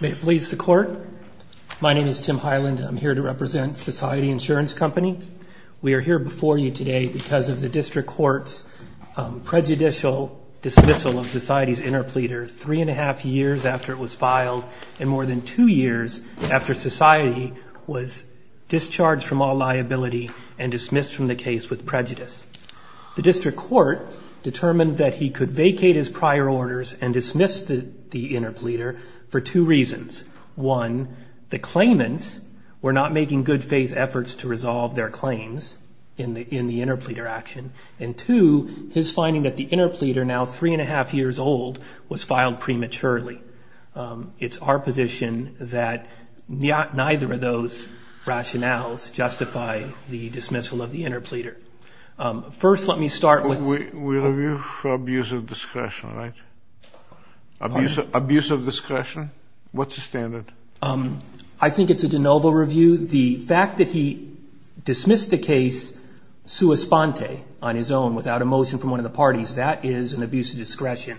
May it please the Court. My name is Tim Hyland. I'm here to represent Society Insurance Company. We are here before you today because of the District Court's prejudicial dismissal of Society's interpleader three and a half years after it was filed and more than two years after Society was discharged from all liability and dismissed from the case with prejudice. The District Court determined that he could vacate his prior orders and dismiss the interpleader for two reasons. One, the claimants were not making good faith efforts to resolve their claims in the interpleader action. And two, his finding that the interpleader, now three and a half years old, was filed prematurely. It's our position that neither of those rationales justify the dismissal of the interpleader. First, let me start with... We review for abuse of discretion, right? Abuse of discretion? What's the standard? I think it's a de novo review. The fact that he dismissed the case sua sponte, on his own, without a motion from one of the parties, that is an abuse of discretion.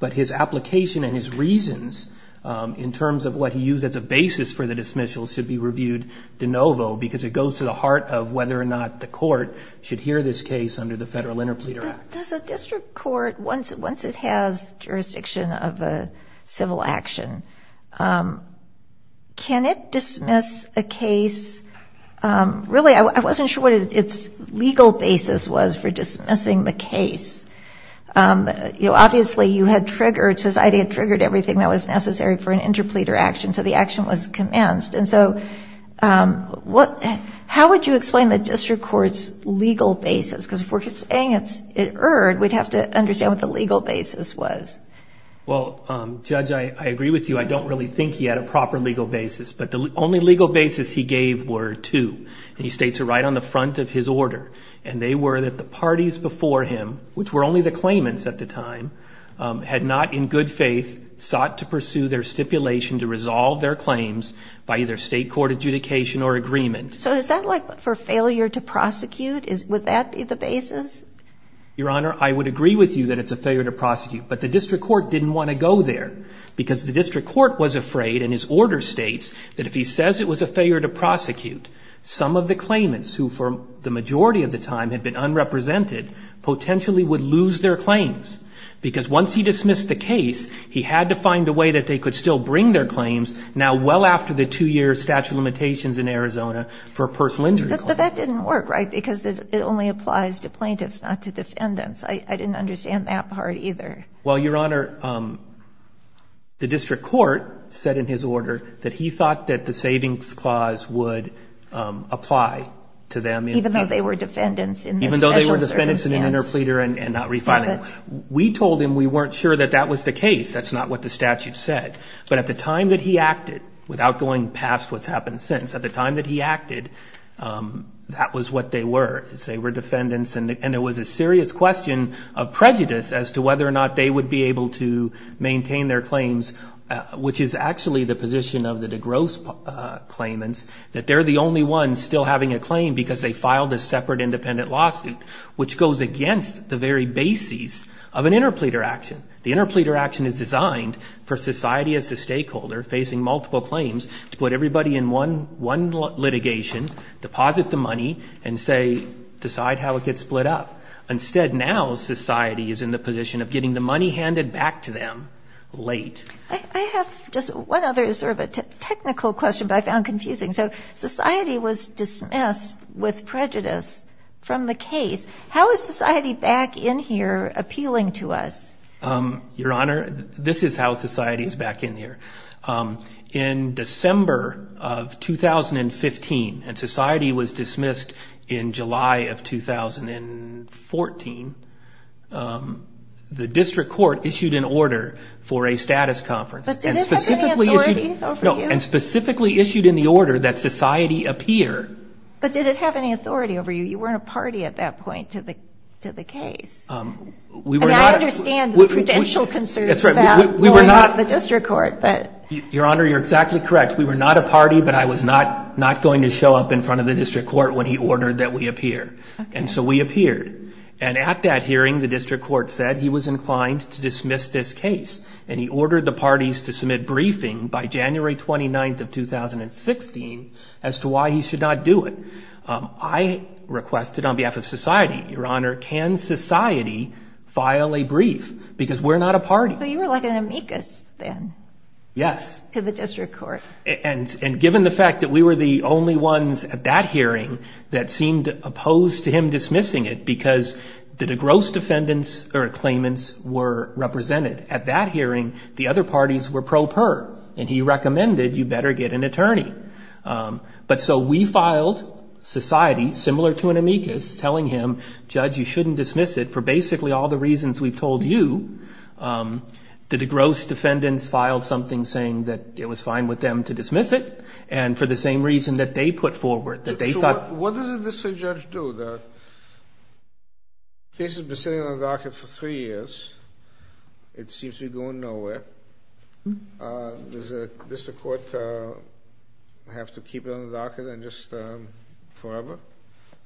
But his application and his reasons in terms of what he used as a basis for the dismissal should be reviewed de novo because it goes to the heart of whether or not the court should hear this case under the Federal Interpleader Act. Does the District Court, once it has jurisdiction of a civil action, can it dismiss a case? Really I wasn't sure what its legal basis was for dismissing the case. Obviously you had triggered, Society had triggered everything that was necessary for an interpleader action so the action was commenced. How would you explain the District Court's legal basis? Because if we're saying it erred, we'd have to understand what the legal basis was. Well, Judge, I agree with you. I don't really think he had a proper legal basis, but the only legal basis he gave were two. He states it right on the front of his order. They were that the parties before him, which were only the claimants at the time, had not in good relation to resolve their claims by either state court adjudication or agreement. So is that like for failure to prosecute? Would that be the basis? Your Honor, I would agree with you that it's a failure to prosecute, but the District Court didn't want to go there because the District Court was afraid, and his order states, that if he says it was a failure to prosecute, some of the claimants, who for the majority of the time had been unrepresented, potentially would lose their claims. Because once he dismissed the case, he had to find a way that they could still bring their claims, now well after the two-year statute of limitations in Arizona, for a personal injury claim. But that didn't work, right? Because it only applies to plaintiffs, not to defendants. I didn't understand that part either. Well, Your Honor, the District Court said in his order that he thought that the savings clause would apply to them. Even though they were defendants in this special circumstance? Even though they were defendants in an interpleader and not refining. We told him we weren't sure that that was the case. That's not what the statute said. But at the time that he acted, without going past what's happened since, at the time that he acted, that was what they were. They were defendants, and it was a serious question of prejudice as to whether or not they would be able to maintain their claims, which is actually the position of the DeGrosse claimants, that they're the only ones still having a piece of an interpleader action. The interpleader action is designed for society as a stakeholder facing multiple claims to put everybody in one litigation, deposit the money, and say, decide how it gets split up. Instead, now society is in the position of getting the money handed back to them late. I have just one other sort of a technical question, but I found confusing. So society was dismissed with prejudice from the case. How is society back in here appealing to us? Your Honor, this is how society is back in here. In December of 2015, and society was dismissed in July of 2014, the district court issued an order for a status conference. But did it have any authority over you? No, and specifically issued in the order that society appear. But did it have any authority over you? You weren't a party at that point to the case. I understand the prudential concerns about going to the district court, but... Your Honor, you're exactly correct. We were not a party, but I was not going to show up in front of the district court when he ordered that we appear. So we appeared. At that hearing, the district court said he was inclined to dismiss this case. He ordered the parties to submit briefing by January 29th of 2016 as to why he should not do it. I requested on behalf of society, Your Honor, can society file a brief? Because we're not a party. So you were like an amicus then? Yes. To the district court. And given the fact that we were the only ones at that hearing that seemed opposed to him dismissing it because the gross defendants or claimants were represented. At that hearing, the other parties were pro per, and he recommended you better get an attorney. But so we filed society, similar to an amicus, telling him, Judge, you shouldn't dismiss it for basically all the reasons we've told you. The gross defendants filed something saying that it was fine with them to dismiss it, and for the same reason that they put forward, that they thought... What does the district judge do? The case has been sitting on the docket for three years. It seems to be going nowhere. Does the district court have to keep it on the docket just forever?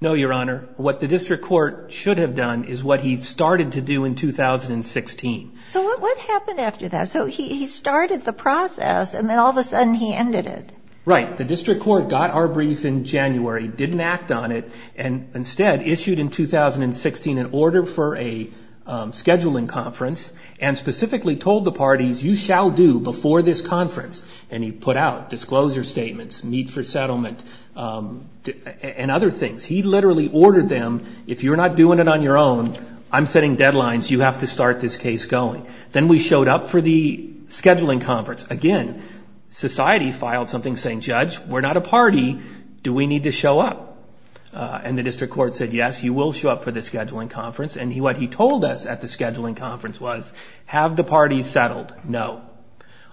No, Your Honor. What the district court should have done is what he started to do in 2016. So what happened after that? So he started the process, and then all of a sudden he ended it. Right. The district court got our brief in January, didn't act on it, and instead issued in 2016 an order for a scheduling conference, and specifically told the parties, you shall do before this conference. And he put out disclosure statements, need for settlement, and other things. He literally ordered them, if you're not doing it on your own, I'm setting deadlines, you have to start this case going. Then we showed up for the scheduling conference. Again, society filed something saying, Judge, we're not a party. Do we need to show up? And the district court said, yes, you will show up for the scheduling conference. And what he told us at the scheduling conference was, have the parties settled? No.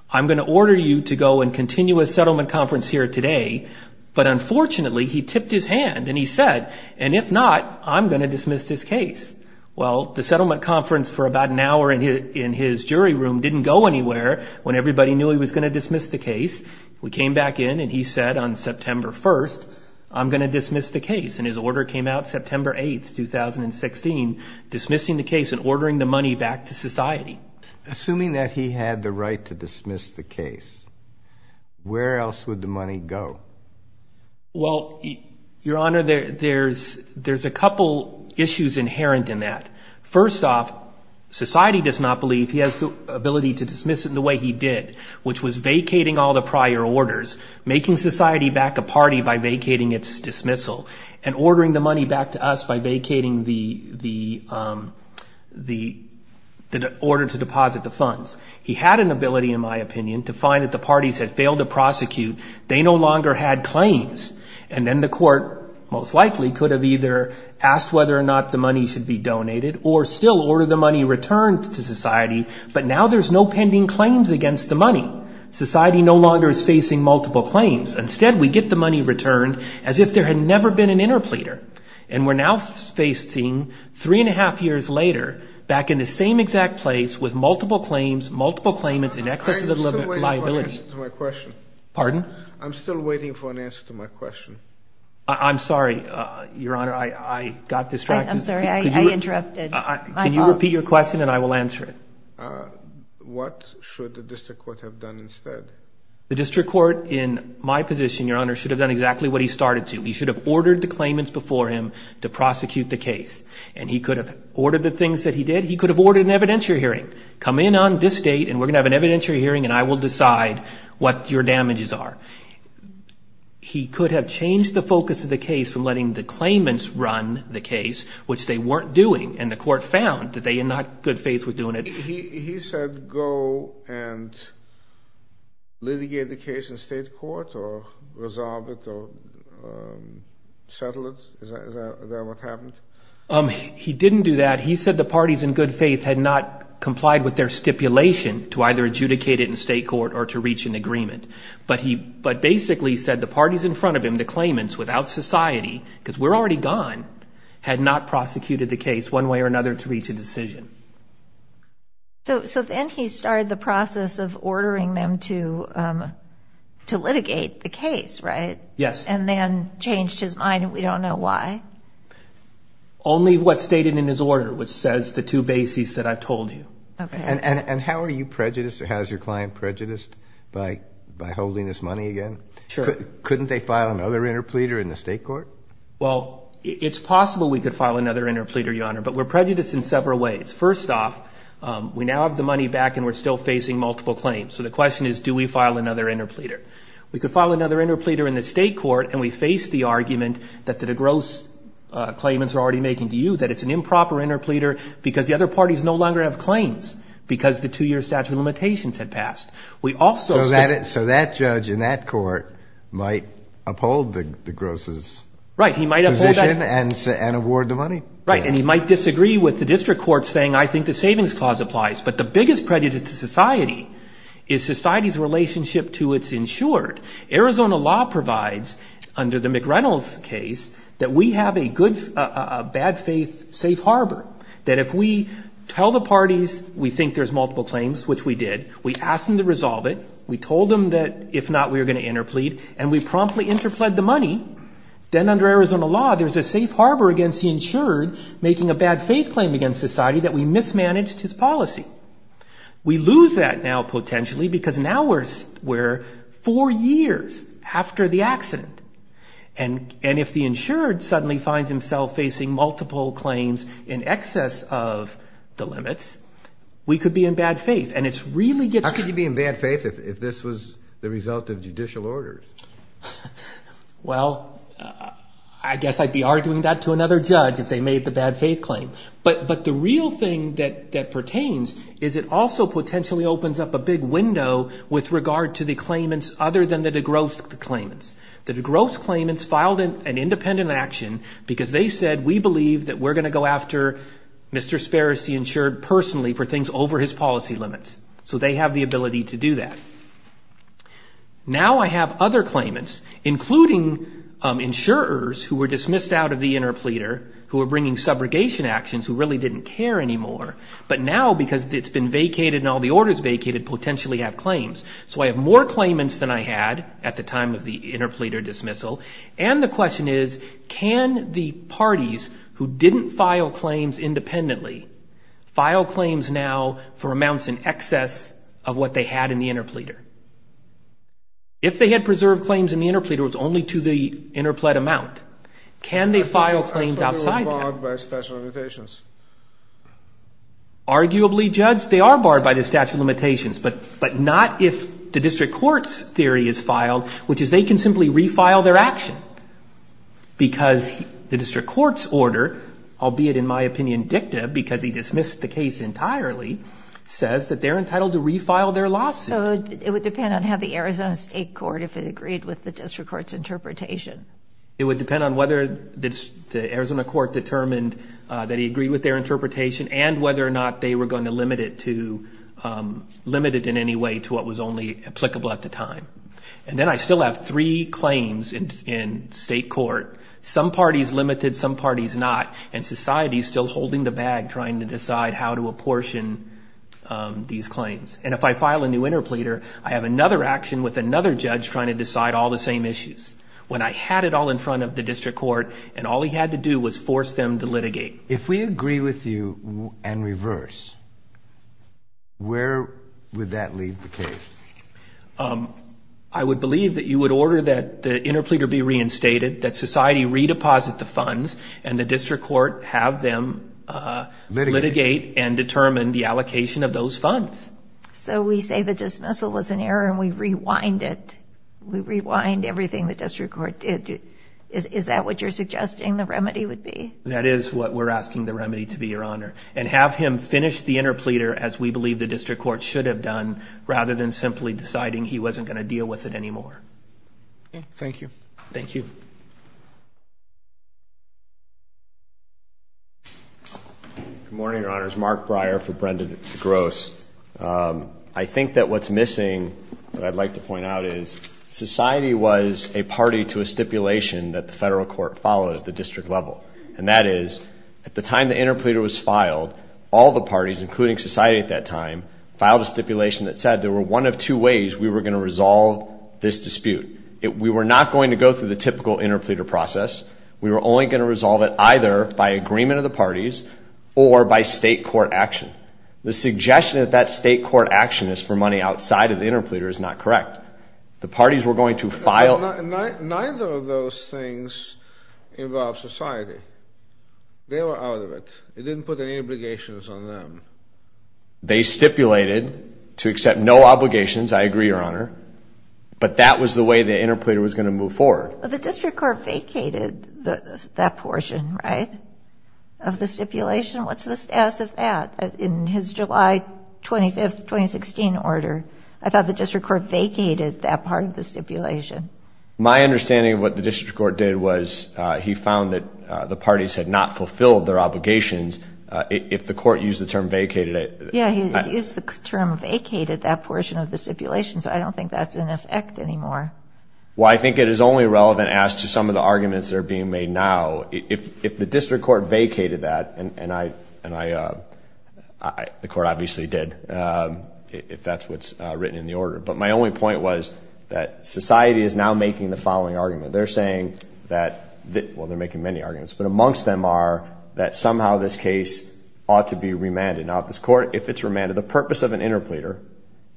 I'm going to order you to go and continue a settlement conference here today. But unfortunately, he tipped his hand and he said, and if not, I'm going to dismiss this case. Well, the settlement conference for about an hour in his jury room didn't go anywhere when everybody knew he was going to dismiss the case. We came back in and he said on September 1st, I'm going to dismiss the case. And his order came out September 8th, 2016, dismissing the case and ordering the money back to society. Assuming that he had the right to dismiss the case, where else would the money go? Well, Your Honor, there's a couple issues inherent in that. First off, society does not believe he has the ability to dismiss it in the way he did, which was vacating all the prior orders, making society back a party by vacating its dismissal, and ordering the money back to us by vacating the order to deposit the funds. He had an ability, in my opinion, to find that the parties had failed to prosecute. They no longer had claims. And then the court most likely could have either asked whether or not the money should be donated or still order the money returned to society. But now there's no pending claims against the money. Society no longer is facing multiple claims. Instead, we get the money returned as if there had never been an interpleader. And we're now facing, three and a half years later, back in the same exact place with multiple claims, multiple claimants in excess of the liability. I'm still waiting for an answer to my question. Pardon? I'm still waiting for an answer to my question. I'm sorry, Your Honor, I got distracted. I'm sorry, I interrupted. Can you repeat your question and I will answer it? What should the district court have done instead? The district court, in my position, Your Honor, should have done exactly what he started to. He should have ordered the claimants before him to prosecute the case. And he could have ordered the things that he did. He could have ordered an evidentiary hearing. Come in on this date and we're going to have an evidentiary hearing and I will decide what your damages are. He could have changed the focus of the case from letting the claimants run the case, which they weren't doing. And the court found that they, in good faith, was doing it. He said go and litigate the case in state court or resolve it or settle it? Is that what happened? He didn't do that. He said the parties in good faith had not complied with their stipulation to either adjudicate it in state court or to reach an agreement. But he basically said the parties in front of him, the claimants, without society, because we're already gone, had not prosecuted the case one way or another to reach a decision. So then he started the process of ordering them to litigate the case, right? Yes. And then changed his mind and we don't know why. Only what's stated in his order, which says the two bases that I've told you. Okay. And how are you prejudiced or how is your client prejudiced by holding this money again? Sure. Couldn't they file another interpleader in the state court? Well, it's possible we could file another interpleader, Your Honor, but we're prejudiced in several ways. First off, we now have the money back and we're still facing multiple claims. So the question is, do we file another interpleader? We could file another interpleader in the state court and we face the argument that the DeGrosse claimants are already making to you that it's an improper interpleader because the other parties no longer have claims because the two-year statute of limitations had passed. So that judge in that court might uphold DeGrosse's position and award the money? Right. And he might disagree with the district court saying, I think the savings clause applies. But the biggest prejudice to society is society's relationship to its insured. Arizona law provides under the McReynolds case that we have a good, a bad faith safe harbor. That if we tell the parties we think there's multiple claims, which we did, we asked them to resolve it. We told them that if not, we were going to interplead and we promptly interpled the money. Then under Arizona law, there's a safe harbor against the insurer making a bad faith claim against society that we mismanaged his policy. We lose that now potentially because now we're four years after the accident. And if the insured suddenly finds himself facing multiple claims in excess of the limits, we could be in bad faith. And it's really getting... How could you be in bad faith if this was the result of judicial orders? Well, I guess I'd be arguing that to another judge if they made the bad faith claim. But the real thing that pertains is it also potentially opens up a big window with regard to the claimants other than the DeGrowth claimants. The DeGrowth claimants filed an independent action because they said, we believe that we're going to go after Mr. Sparrows, the insured personally for things over his policy limits. So they have the ability to do that. Now I have other claimants, including insurers who were dismissed out of the interpleader, who were bringing subrogation actions, who really didn't care anymore. But now because it's been vacated and all the orders vacated, potentially have claims. So I have more claimants than I had at the time of the interpleader dismissal. And the question is, can the parties who didn't file claims independently file claims now for amounts in excess of what they had in the interpleader? If they had preserved claims in the interpleader, it was only to the interplead amount. Can they file claims outside that? Arguably, Judge, they are barred by the statute of limitations. But not if the district court's theory is filed, which is they can simply refile their action. Because the district court's order, albeit in my opinion dicta, because he dismissed the case entirely, says that they're entitled to refile their lawsuit. So it would depend on how the Arizona state court, if it agreed with the district court's interpretation. It would depend on whether the Arizona court determined that he agreed with their interpretation and whether or not they were going to limit it to, limit it in any way to what was only applicable at the time. And then I still have three claims in state court. Some parties limited, some parties not. And society is still holding the bag trying to these claims. And if I file a new interpleader, I have another action with another judge trying to decide all the same issues. When I had it all in front of the district court and all he had to do was force them to litigate. If we agree with you and reverse, where would that leave the case? I would believe that you would order that the interpleader be reinstated, that society fund. So we say the dismissal was an error and we rewind it. We rewind everything the district court did. Is that what you're suggesting the remedy would be? That is what we're asking the remedy to be, your honor. And have him finish the interpleader as we believe the district court should have done, rather than simply deciding he wasn't going to deal with it anymore. Thank you. Thank you. Good morning, your honors. Mark Breyer for Brendan Gross. I think that what's missing that I'd like to point out is society was a party to a stipulation that the federal court follows the district level. And that is at the time the interpleader was filed, all the parties, including society at that time, filed a stipulation that said there were one of two ways we were going to resolve this dispute. We were not going to go through the typical interpleader process. We were only going to resolve it either by agreement of the parties or by state court action. The suggestion that that state court action is for money outside of the interpleader is not correct. The parties were going to file... Neither of those things involved society. They were out of it. It didn't put any obligations on them. They stipulated to accept no obligations. I agree, your honor. But that was the way the interpleader was going to move forward. The district court vacated that portion, right? Of the stipulation. What's the status of that in his July 25, 2016 order? I thought the district court vacated that part of the stipulation. My understanding of what the district court did was he found that the parties had not Yeah, he used the term vacated that portion of the stipulation, so I don't think that's in effect anymore. Well, I think it is only relevant as to some of the arguments that are being made now. If the district court vacated that, and the court obviously did, if that's what's written in the order. But my only point was that society is now making the following argument. They're saying that, well, they're making many arguments, but amongst them are that somehow this case ought to be remanded. Now, if this court, if it's remanded, the purpose of an interpleader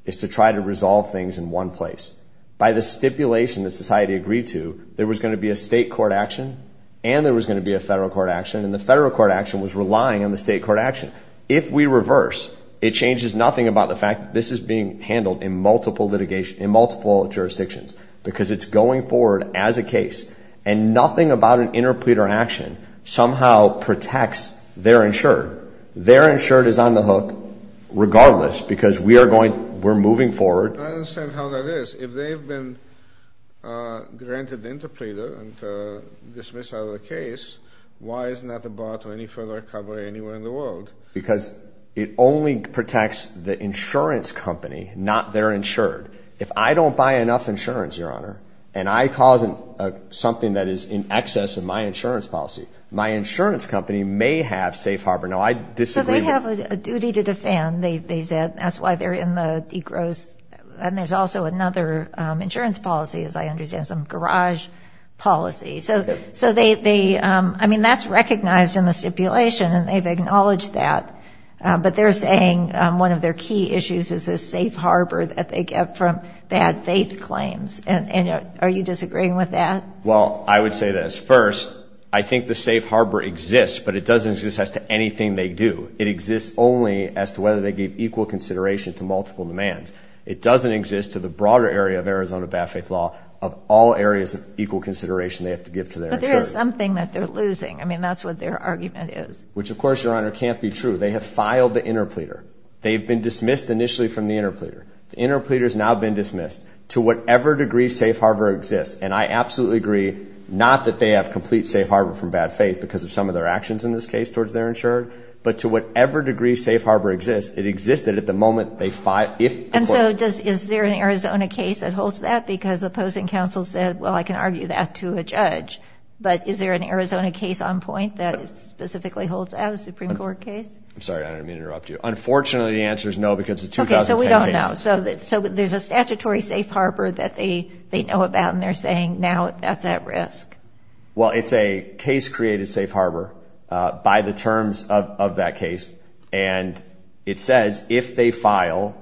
is to try to resolve things in one place. By the stipulation that society agreed to, there was going to be a state court action, and there was going to be a federal court action. And the federal court action was relying on the state court action. If we reverse, it changes nothing about the fact that this is being handled in multiple jurisdictions, because it's going forward as a case. And nothing about an interpleader action somehow protects their insured. Their insured is on the hook regardless, because we're moving forward. I understand how that is. If they've been granted interpleader and dismissed out of the case, why isn't that a bar to any further recovery anywhere in the world? Because it only protects the insurance company, not their insured. If I don't buy enough insurance, and I cause something that is in excess of my insurance policy, my insurance company may have safe harbor. Now, I disagree. They have a duty to defend. That's why they're in the de-gross. And there's also another insurance policy, as I understand, some garage policy. That's recognized in the stipulation, and they've acknowledged that. But they're saying one of their key issues is this safe harbor. Are you disagreeing with that? Well, I would say this. First, I think the safe harbor exists, but it doesn't exist as to anything they do. It exists only as to whether they give equal consideration to multiple demands. It doesn't exist to the broader area of Arizona bad faith law of all areas of equal consideration they have to give to their insured. But there is something that they're losing. I mean, that's what their argument is. Which, of course, Your Honor, can't be true. They have filed the interpleader. They've been dismissed initially from the interpleader. The interpleader has now been dismissed to whatever degree safe harbor exists. And I absolutely agree, not that they have complete safe harbor from bad faith because of some of their actions in this case towards their insured, but to whatever degree safe harbor exists, it exists that at the moment they file, if... And so, is there an Arizona case that holds that? Because opposing counsel said, well, I can argue that to a judge. But is there an Arizona case on point that specifically holds out, a Supreme Court case? I'm sorry, Your Honor, let me interrupt you. Unfortunately, the answer is no because the 2010 case... Well, it's a case created safe harbor by the terms of that case. And it says, if they file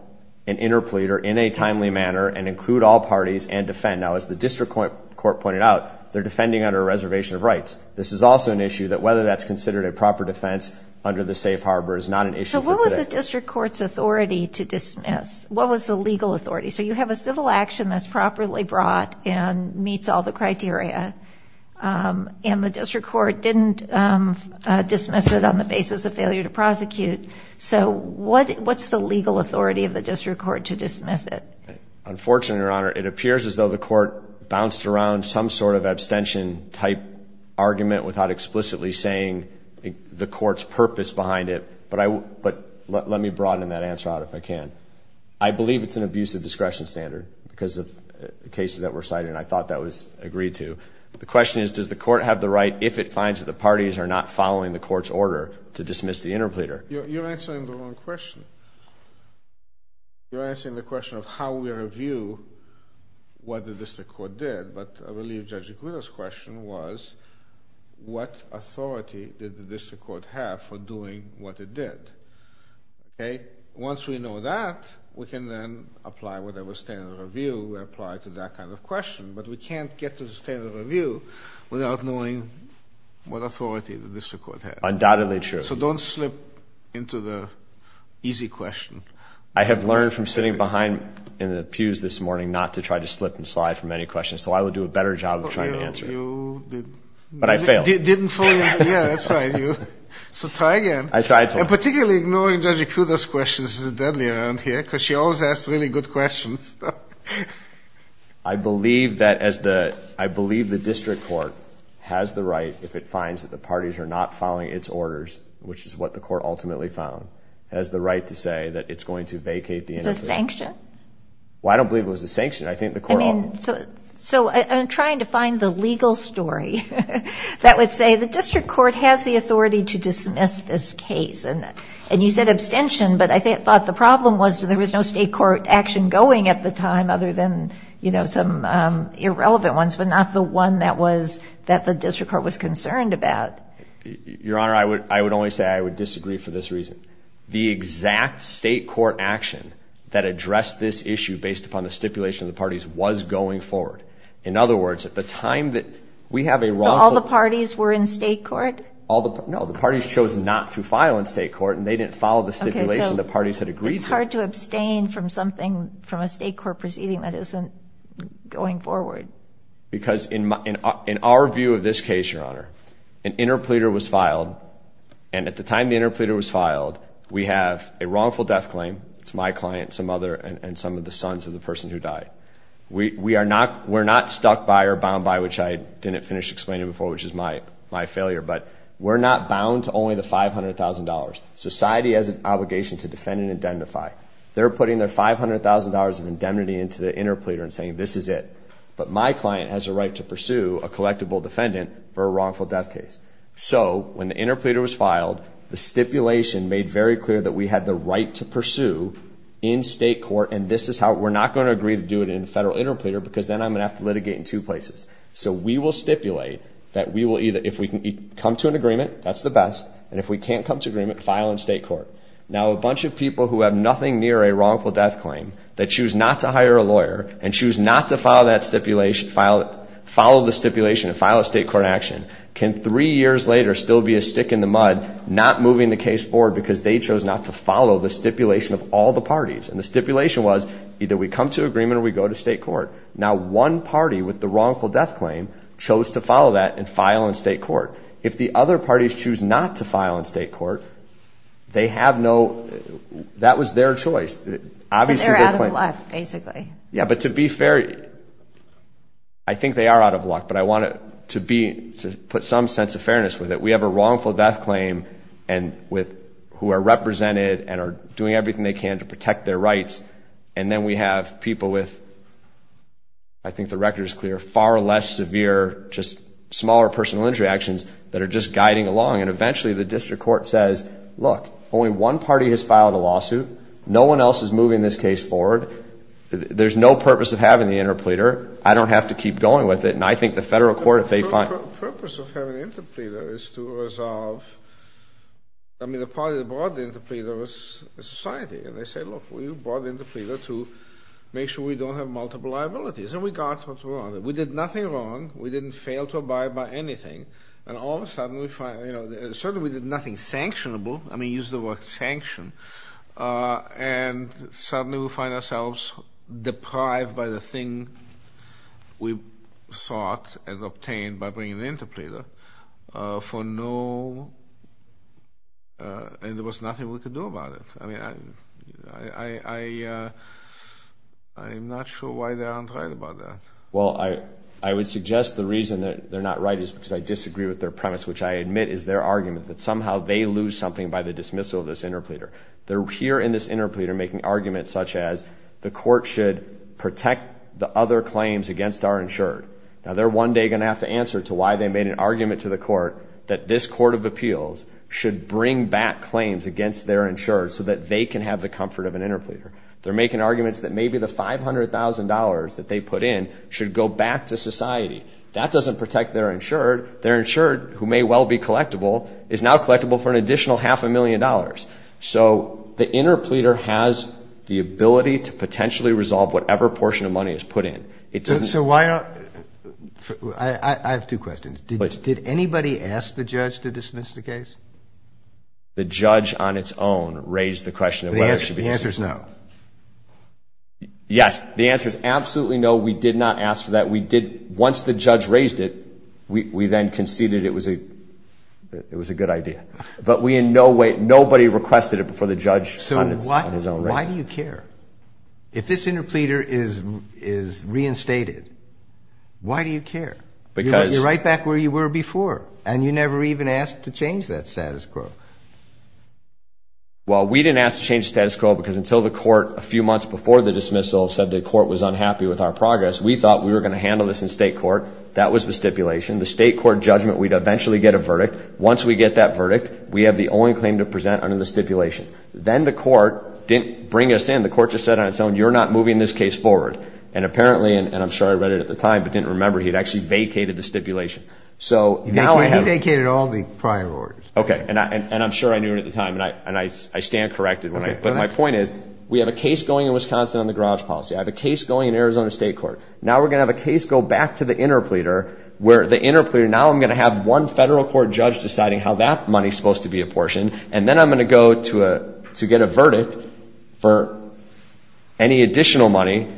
an interpleader in a timely manner and include all parties and defend... Now, as the district court pointed out, they're defending under a reservation of rights. This is also an issue that whether that's considered a proper defense under the safe harbor is not an issue for today. So, what was the district court's authority to dismiss? What was the legal authority? So, you have a civil action that's properly brought and meets all the criteria. And the district court didn't dismiss it on the basis of failure to prosecute. So, what's the legal authority of the district court to dismiss it? Unfortunately, Your Honor, it appears as though the court bounced around some sort of abstention type argument without explicitly saying the court's purpose behind it. But let me broaden that answer out if I can. I believe it's an abusive discretion standard because of the cases that were cited. And I thought that was agreed to. The question is, does the court have the right if it finds that the parties are not following the court's order to dismiss the interpleader? You're answering the wrong question. You're answering the question of how we review what the district court did. But I believe Judge Agudo's question was, what authority did the Once we know that, we can then apply whatever standard of review we apply to that kind of question. But we can't get to the standard of review without knowing what authority the district court had. Undoubtedly true. So, don't slip into the easy question. I have learned from sitting behind in the pews this morning not to try to slip and slide from any questions. So, I would do a better job of trying to answer it. You didn't. But I failed. You didn't fully. Yeah, that's right. So, try again. I tried to. Particularly ignoring Judge Agudo's question, this is deadly around here, because she always asks really good questions. I believe that as the, I believe the district court has the right if it finds that the parties are not following its orders, which is what the court ultimately found, has the right to say that it's going to vacate the interpleader. Is this sanctioned? Well, I don't believe it was sanctioned. I think the court I mean, so I'm trying to find the legal story that would say the district court has the and you said abstention, but I thought the problem was there was no state court action going at the time other than, you know, some irrelevant ones, but not the one that was that the district court was concerned about. Your Honor, I would only say I would disagree for this reason. The exact state court action that addressed this issue based upon the stipulation of the parties was going forward. In other words, at the time that we have a wrongful All the parties were in state court? No, the parties chose not to file in state court and they didn't follow the stipulation the parties had agreed to. It's hard to abstain from something from a state court proceeding that isn't going forward. Because in our view of this case, Your Honor, an interpleader was filed. And at the time the interpleader was filed, we have a wrongful death claim. It's my client, some other, and some of the sons of the person who died. We are not, we're not stuck by or bound by, which I didn't finish explaining before, which is my failure. But we're not bound to only the $500,000. Society has an obligation to defend and indemnify. They're putting their $500,000 of indemnity into the interpleader and saying this is it. But my client has a right to pursue a collectible defendant for a wrongful death case. So when the interpleader was filed, the stipulation made very clear that we had the right to pursue in state court. And this is how we're not going to agree to do it in federal interpleader, because then I'm going to have to litigate in two places. So we will stipulate that we will either, if we can come to an agreement, that's the best. And if we can't come to agreement, file in state court. Now a bunch of people who have nothing near a wrongful death claim that choose not to hire a lawyer and choose not to file that stipulation, follow the stipulation and file a state court action, can three years later still be a stick in the mud, not moving the case forward because they chose not to follow the stipulation of all the parties. And the stipulation was either we come to agreement or we go to state court. Now one party with the wrongful death claim chose to follow that and file in state court. If the other parties choose not to file in state court, they have no... That was their choice. Obviously... They're out of luck, basically. Yeah, but to be fair, I think they are out of luck, but I want to put some sense of fairness with it. We have a wrongful death claim who are represented and are doing everything they can to protect their rights. And then we have people with, I think the record is clear, far less severe, just smaller personal injury actions that are just guiding along. And eventually the district court says, look, only one party has filed a lawsuit. No one else is moving this case forward. There's no purpose of having the interpleader. I don't have to keep going with it. And I think the federal court, if they find... The purpose of having the interpleader is to resolve... I mean, the party that brought the interpleader was the society. And they said, look, we brought the interpleader to make sure we don't have multiple liabilities. And we got what we wanted. We did nothing wrong. We didn't fail to abide by anything. And all of a sudden we find... Certainly we did nothing sanctionable. I mean, use the word sanction. And suddenly we find ourselves deprived by the thing we sought and obtained by bringing the interpleader for no... And there was nothing we could do about it. I mean, I'm not sure why they aren't right about that. Well, I would suggest the reason that they're not right is because I disagree with their premise, which I admit is their argument that somehow they lose something by the dismissal of this interpleader. They're here in this interpleader making arguments such as the court should protect the other claims against our insured. Now, they're one day going to have to answer to why they made an argument to the court that this court of appeals should bring back claims against their insured so that they can have the comfort of an interpleader. They're making arguments that maybe the $500,000 that they put in should go back to society. That doesn't protect their insured. Their insured, who may well be collectible, is now collectible for an additional half a million dollars. So the interpleader has the ability to potentially resolve whatever portion of money is put in. I have two questions. Did anybody ask the judge to dismiss the case? The judge on its own raised the question of whether it should be dismissed. The answer is no. Yes. The answer is absolutely no. We did not ask for that. We did, once the judge raised it, we then conceded it was a good idea. But we in no way, nobody requested it before the judge on his own raised it. Why do you care? If this interpleader is reinstated, why do you care? You're right back where you were before, and you never even asked to change that status quo. Well, we didn't ask to change the status quo because until the court a few months before the dismissal said the court was unhappy with our progress, we thought we were going to handle this in state court. That was the stipulation. The state court judgment, we'd eventually get a verdict. Once we get that verdict, we have the only claim to present under the stipulation. Then the court didn't bring us in. The court just said on its own, you're not moving this case forward. And apparently, and I'm sure I read it at the time, but didn't remember, he'd actually vacated the stipulation. He vacated all the prior orders. Okay, and I'm sure I knew it at the time, and I stand corrected. But my point is, we have a case going in Wisconsin on the garage policy. I have a case going in Arizona State Court. Now we're going to have a case go back to the interpleader, where the interpleader, now I'm going to have one federal court judge deciding how that money is supposed to be apportioned. And then I'm going to go to get a verdict for any additional money.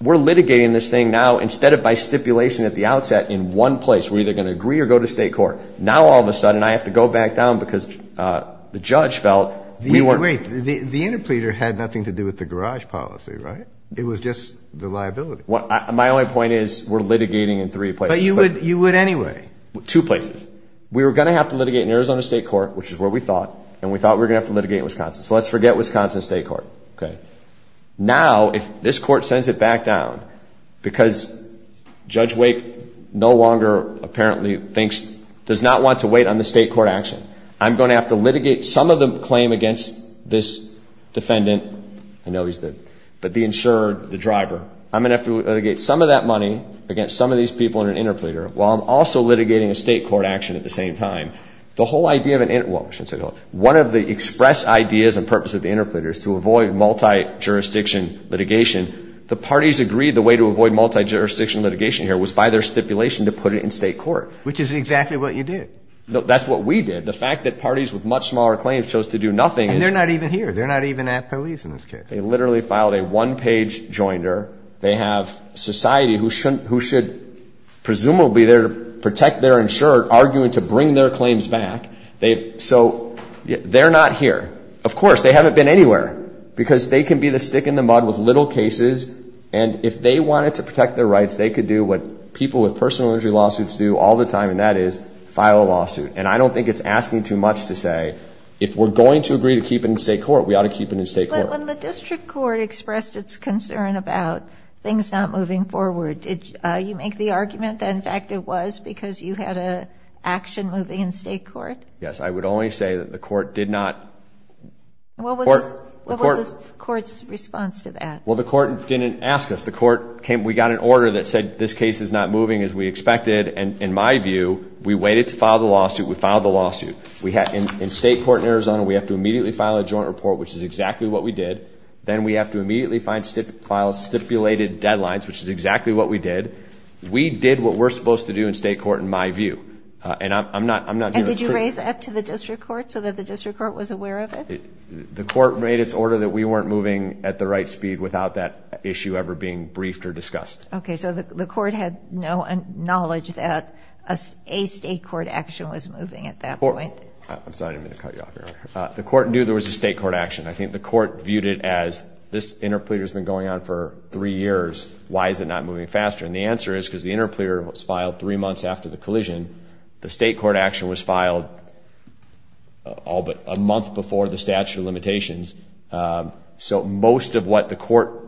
We're litigating this thing now instead of by stipulation at the outset in one place. We're either going to agree or go to state court. Now all of a sudden, I have to go back down because the judge felt we weren't- Wait, the interpleader had nothing to do with the garage policy, right? It was just the liability. My only point is, we're litigating in three places. But you would anyway. Two places. We were going to have to litigate in Arizona State Court, which is where we thought. And we thought we were going to have to litigate in Wisconsin. So let's forget Wisconsin State Court, okay? Now, if this court sends it back down because Judge Wake no longer apparently thinks, does not want to wait on the state court action, I'm going to have to litigate some of the claim against this defendant. I know he's the- But the insured, the driver. I'm going to have to litigate some of that money against some of these people in an interpleader while I'm also litigating a state court action at the same time. The whole idea of an inter- Well, I shouldn't say whole. One of the express ideas and purpose of the interpleader is to avoid multi-jurisdiction litigation. The parties agreed the way to avoid multi-jurisdiction litigation here was by their stipulation to put it in state court. Which is exactly what you did. That's what we did. The fact that parties with much smaller claims chose to do nothing- And they're not even here. They're not even at police in this case. They literally filed a one-page joinder. They have society who should presumably be there to protect their insured, arguing to bring their claims back. So they're not here. Of course, they haven't been anywhere. Because they can be the stick in the mud with little cases. And if they wanted to protect their rights, they could do what people with personal injury lawsuits do all the time, and that is file a lawsuit. And I don't think it's asking too much to say, if we're going to agree to keep it in state court, we ought to keep it in state court. But when the district court expressed its concern about things not moving forward, did you make the argument that, in fact, it was because you had an action moving in state court? Yes. I would only say that the court did not- What was the court's response to that? Well, the court didn't ask us. We got an order that said, this case is not moving as we expected. And in my view, we waited to file the lawsuit. We filed the lawsuit. In state court in Arizona, we have to immediately file a joint report, which is exactly what we did. Then we have to immediately file stipulated deadlines, which is exactly what we did. We did what we're supposed to do in state court, in my view. And I'm not- And did you raise that to the district court, so that the district court was aware of it? The court made its order that we weren't moving at the right speed without that issue ever being briefed or discussed. OK. So the court had no knowledge that a state court action was moving at that point? I'm sorry. I didn't mean to cut you off here. The court knew there was a state court action. I think the court viewed it as, this interpleader has been going on for three years. Why is it not moving faster? The answer is because the interpleader was filed three months after the collision. The state court action was filed a month before the statute of limitations. So most of what the court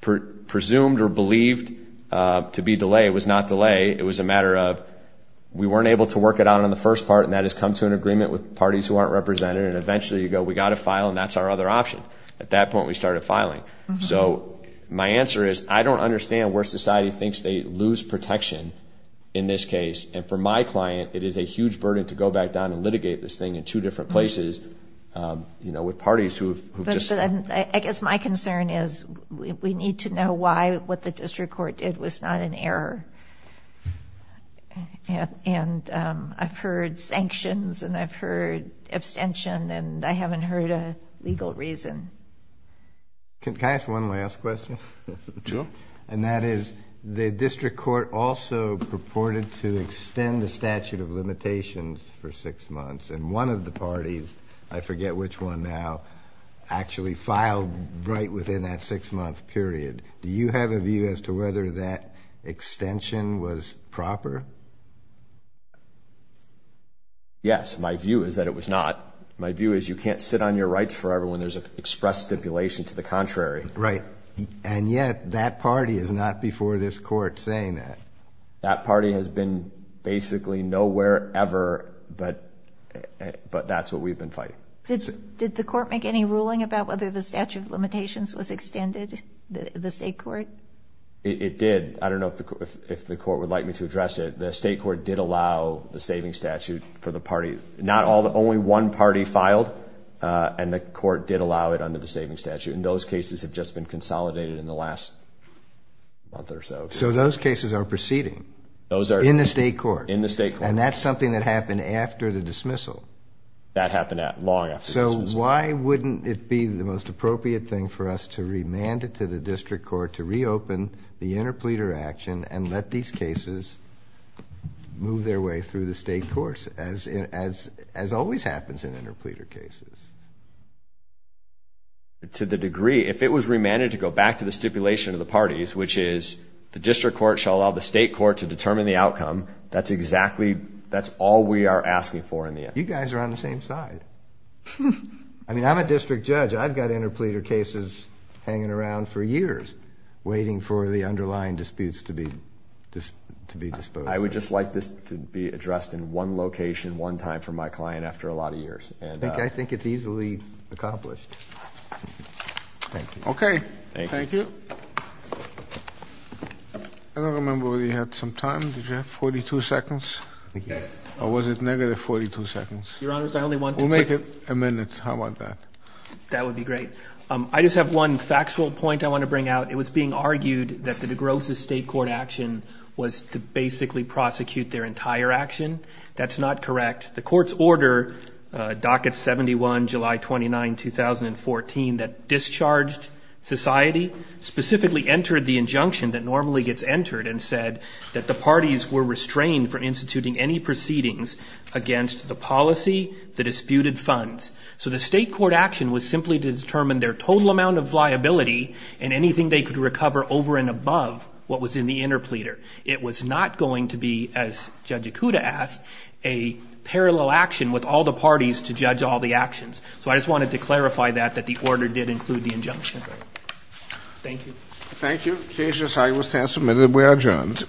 presumed or believed to be delay was not delay. It was a matter of, we weren't able to work it out on the first part, and that has come to an agreement with parties who aren't represented. And eventually you go, we got to file, and that's our other option. At that point, we started filing. So my answer is, I don't understand where society thinks they lose protection in this case. And for my client, it is a huge burden to go back down and litigate this thing in two different places with parties who've just... But I guess my concern is, we need to know why what the district court did was not an error. And I've heard sanctions, and I've heard abstention, and I haven't heard a legal reason. Can I ask one last question? Sure. And that is, the district court also purported to extend the statute of limitations for six months. And one of the parties, I forget which one now, actually filed right within that six month period. Do you have a view as to whether that extension was proper? Yes, my view is that it was not. My view is you can't sit on your rights forever when there's an express stipulation to the contrary. Right. And yet, that party is not before this court saying that. That party has been basically nowhere ever, but that's what we've been fighting. Did the court make any ruling about whether the statute of limitations was extended, the state court? It did. I don't know if the court would like me to address it. The state court did allow the saving statute for the party. Only one party filed, and the court did allow it under the saving statute. And those cases have just been consolidated in the last month or so. So those cases are proceeding? Those are. In the state court? In the state court. And that's something that happened after the dismissal? That happened long after the dismissal. So why wouldn't it be the most appropriate thing for us to remand it to the district court to reopen the interpleader action and let these cases move their way through the as always happens in interpleader cases? To the degree, if it was remanded to go back to the stipulation of the parties, which is the district court shall allow the state court to determine the outcome, that's exactly, that's all we are asking for in the end. You guys are on the same side. I mean, I'm a district judge. I've got interpleader cases hanging around for years waiting for the underlying disputes to be disposed of. I would just like this to be addressed in one location, one time for my client after a lot of years. I think it's easily accomplished. Thank you. Okay. Thank you. I don't remember whether you had some time. Did you have 42 seconds? Yes. Or was it negative 42 seconds? Your Honor, I only want to... We'll make it a minute. How about that? That would be great. I just have one factual point I want to bring out. It was being argued that the DeGrosse's state court action was to basically prosecute their entire action. That's not correct. The court's order, docket 71, July 29, 2014, that discharged society, specifically entered the injunction that normally gets entered and said that the parties were restrained for instituting any proceedings against the policy, the disputed funds. So the state court action was simply to determine their total amount of liability and anything they could recover over and above what was in the interpleader. It was not going to be, as Judge Ikuda asked, a parallel action with all the parties to judge all the actions. So I just wanted to clarify that, that the order did include the injunction. Thank you. Thank you. Cases, I will stand submitted. We are adjourned. All rise.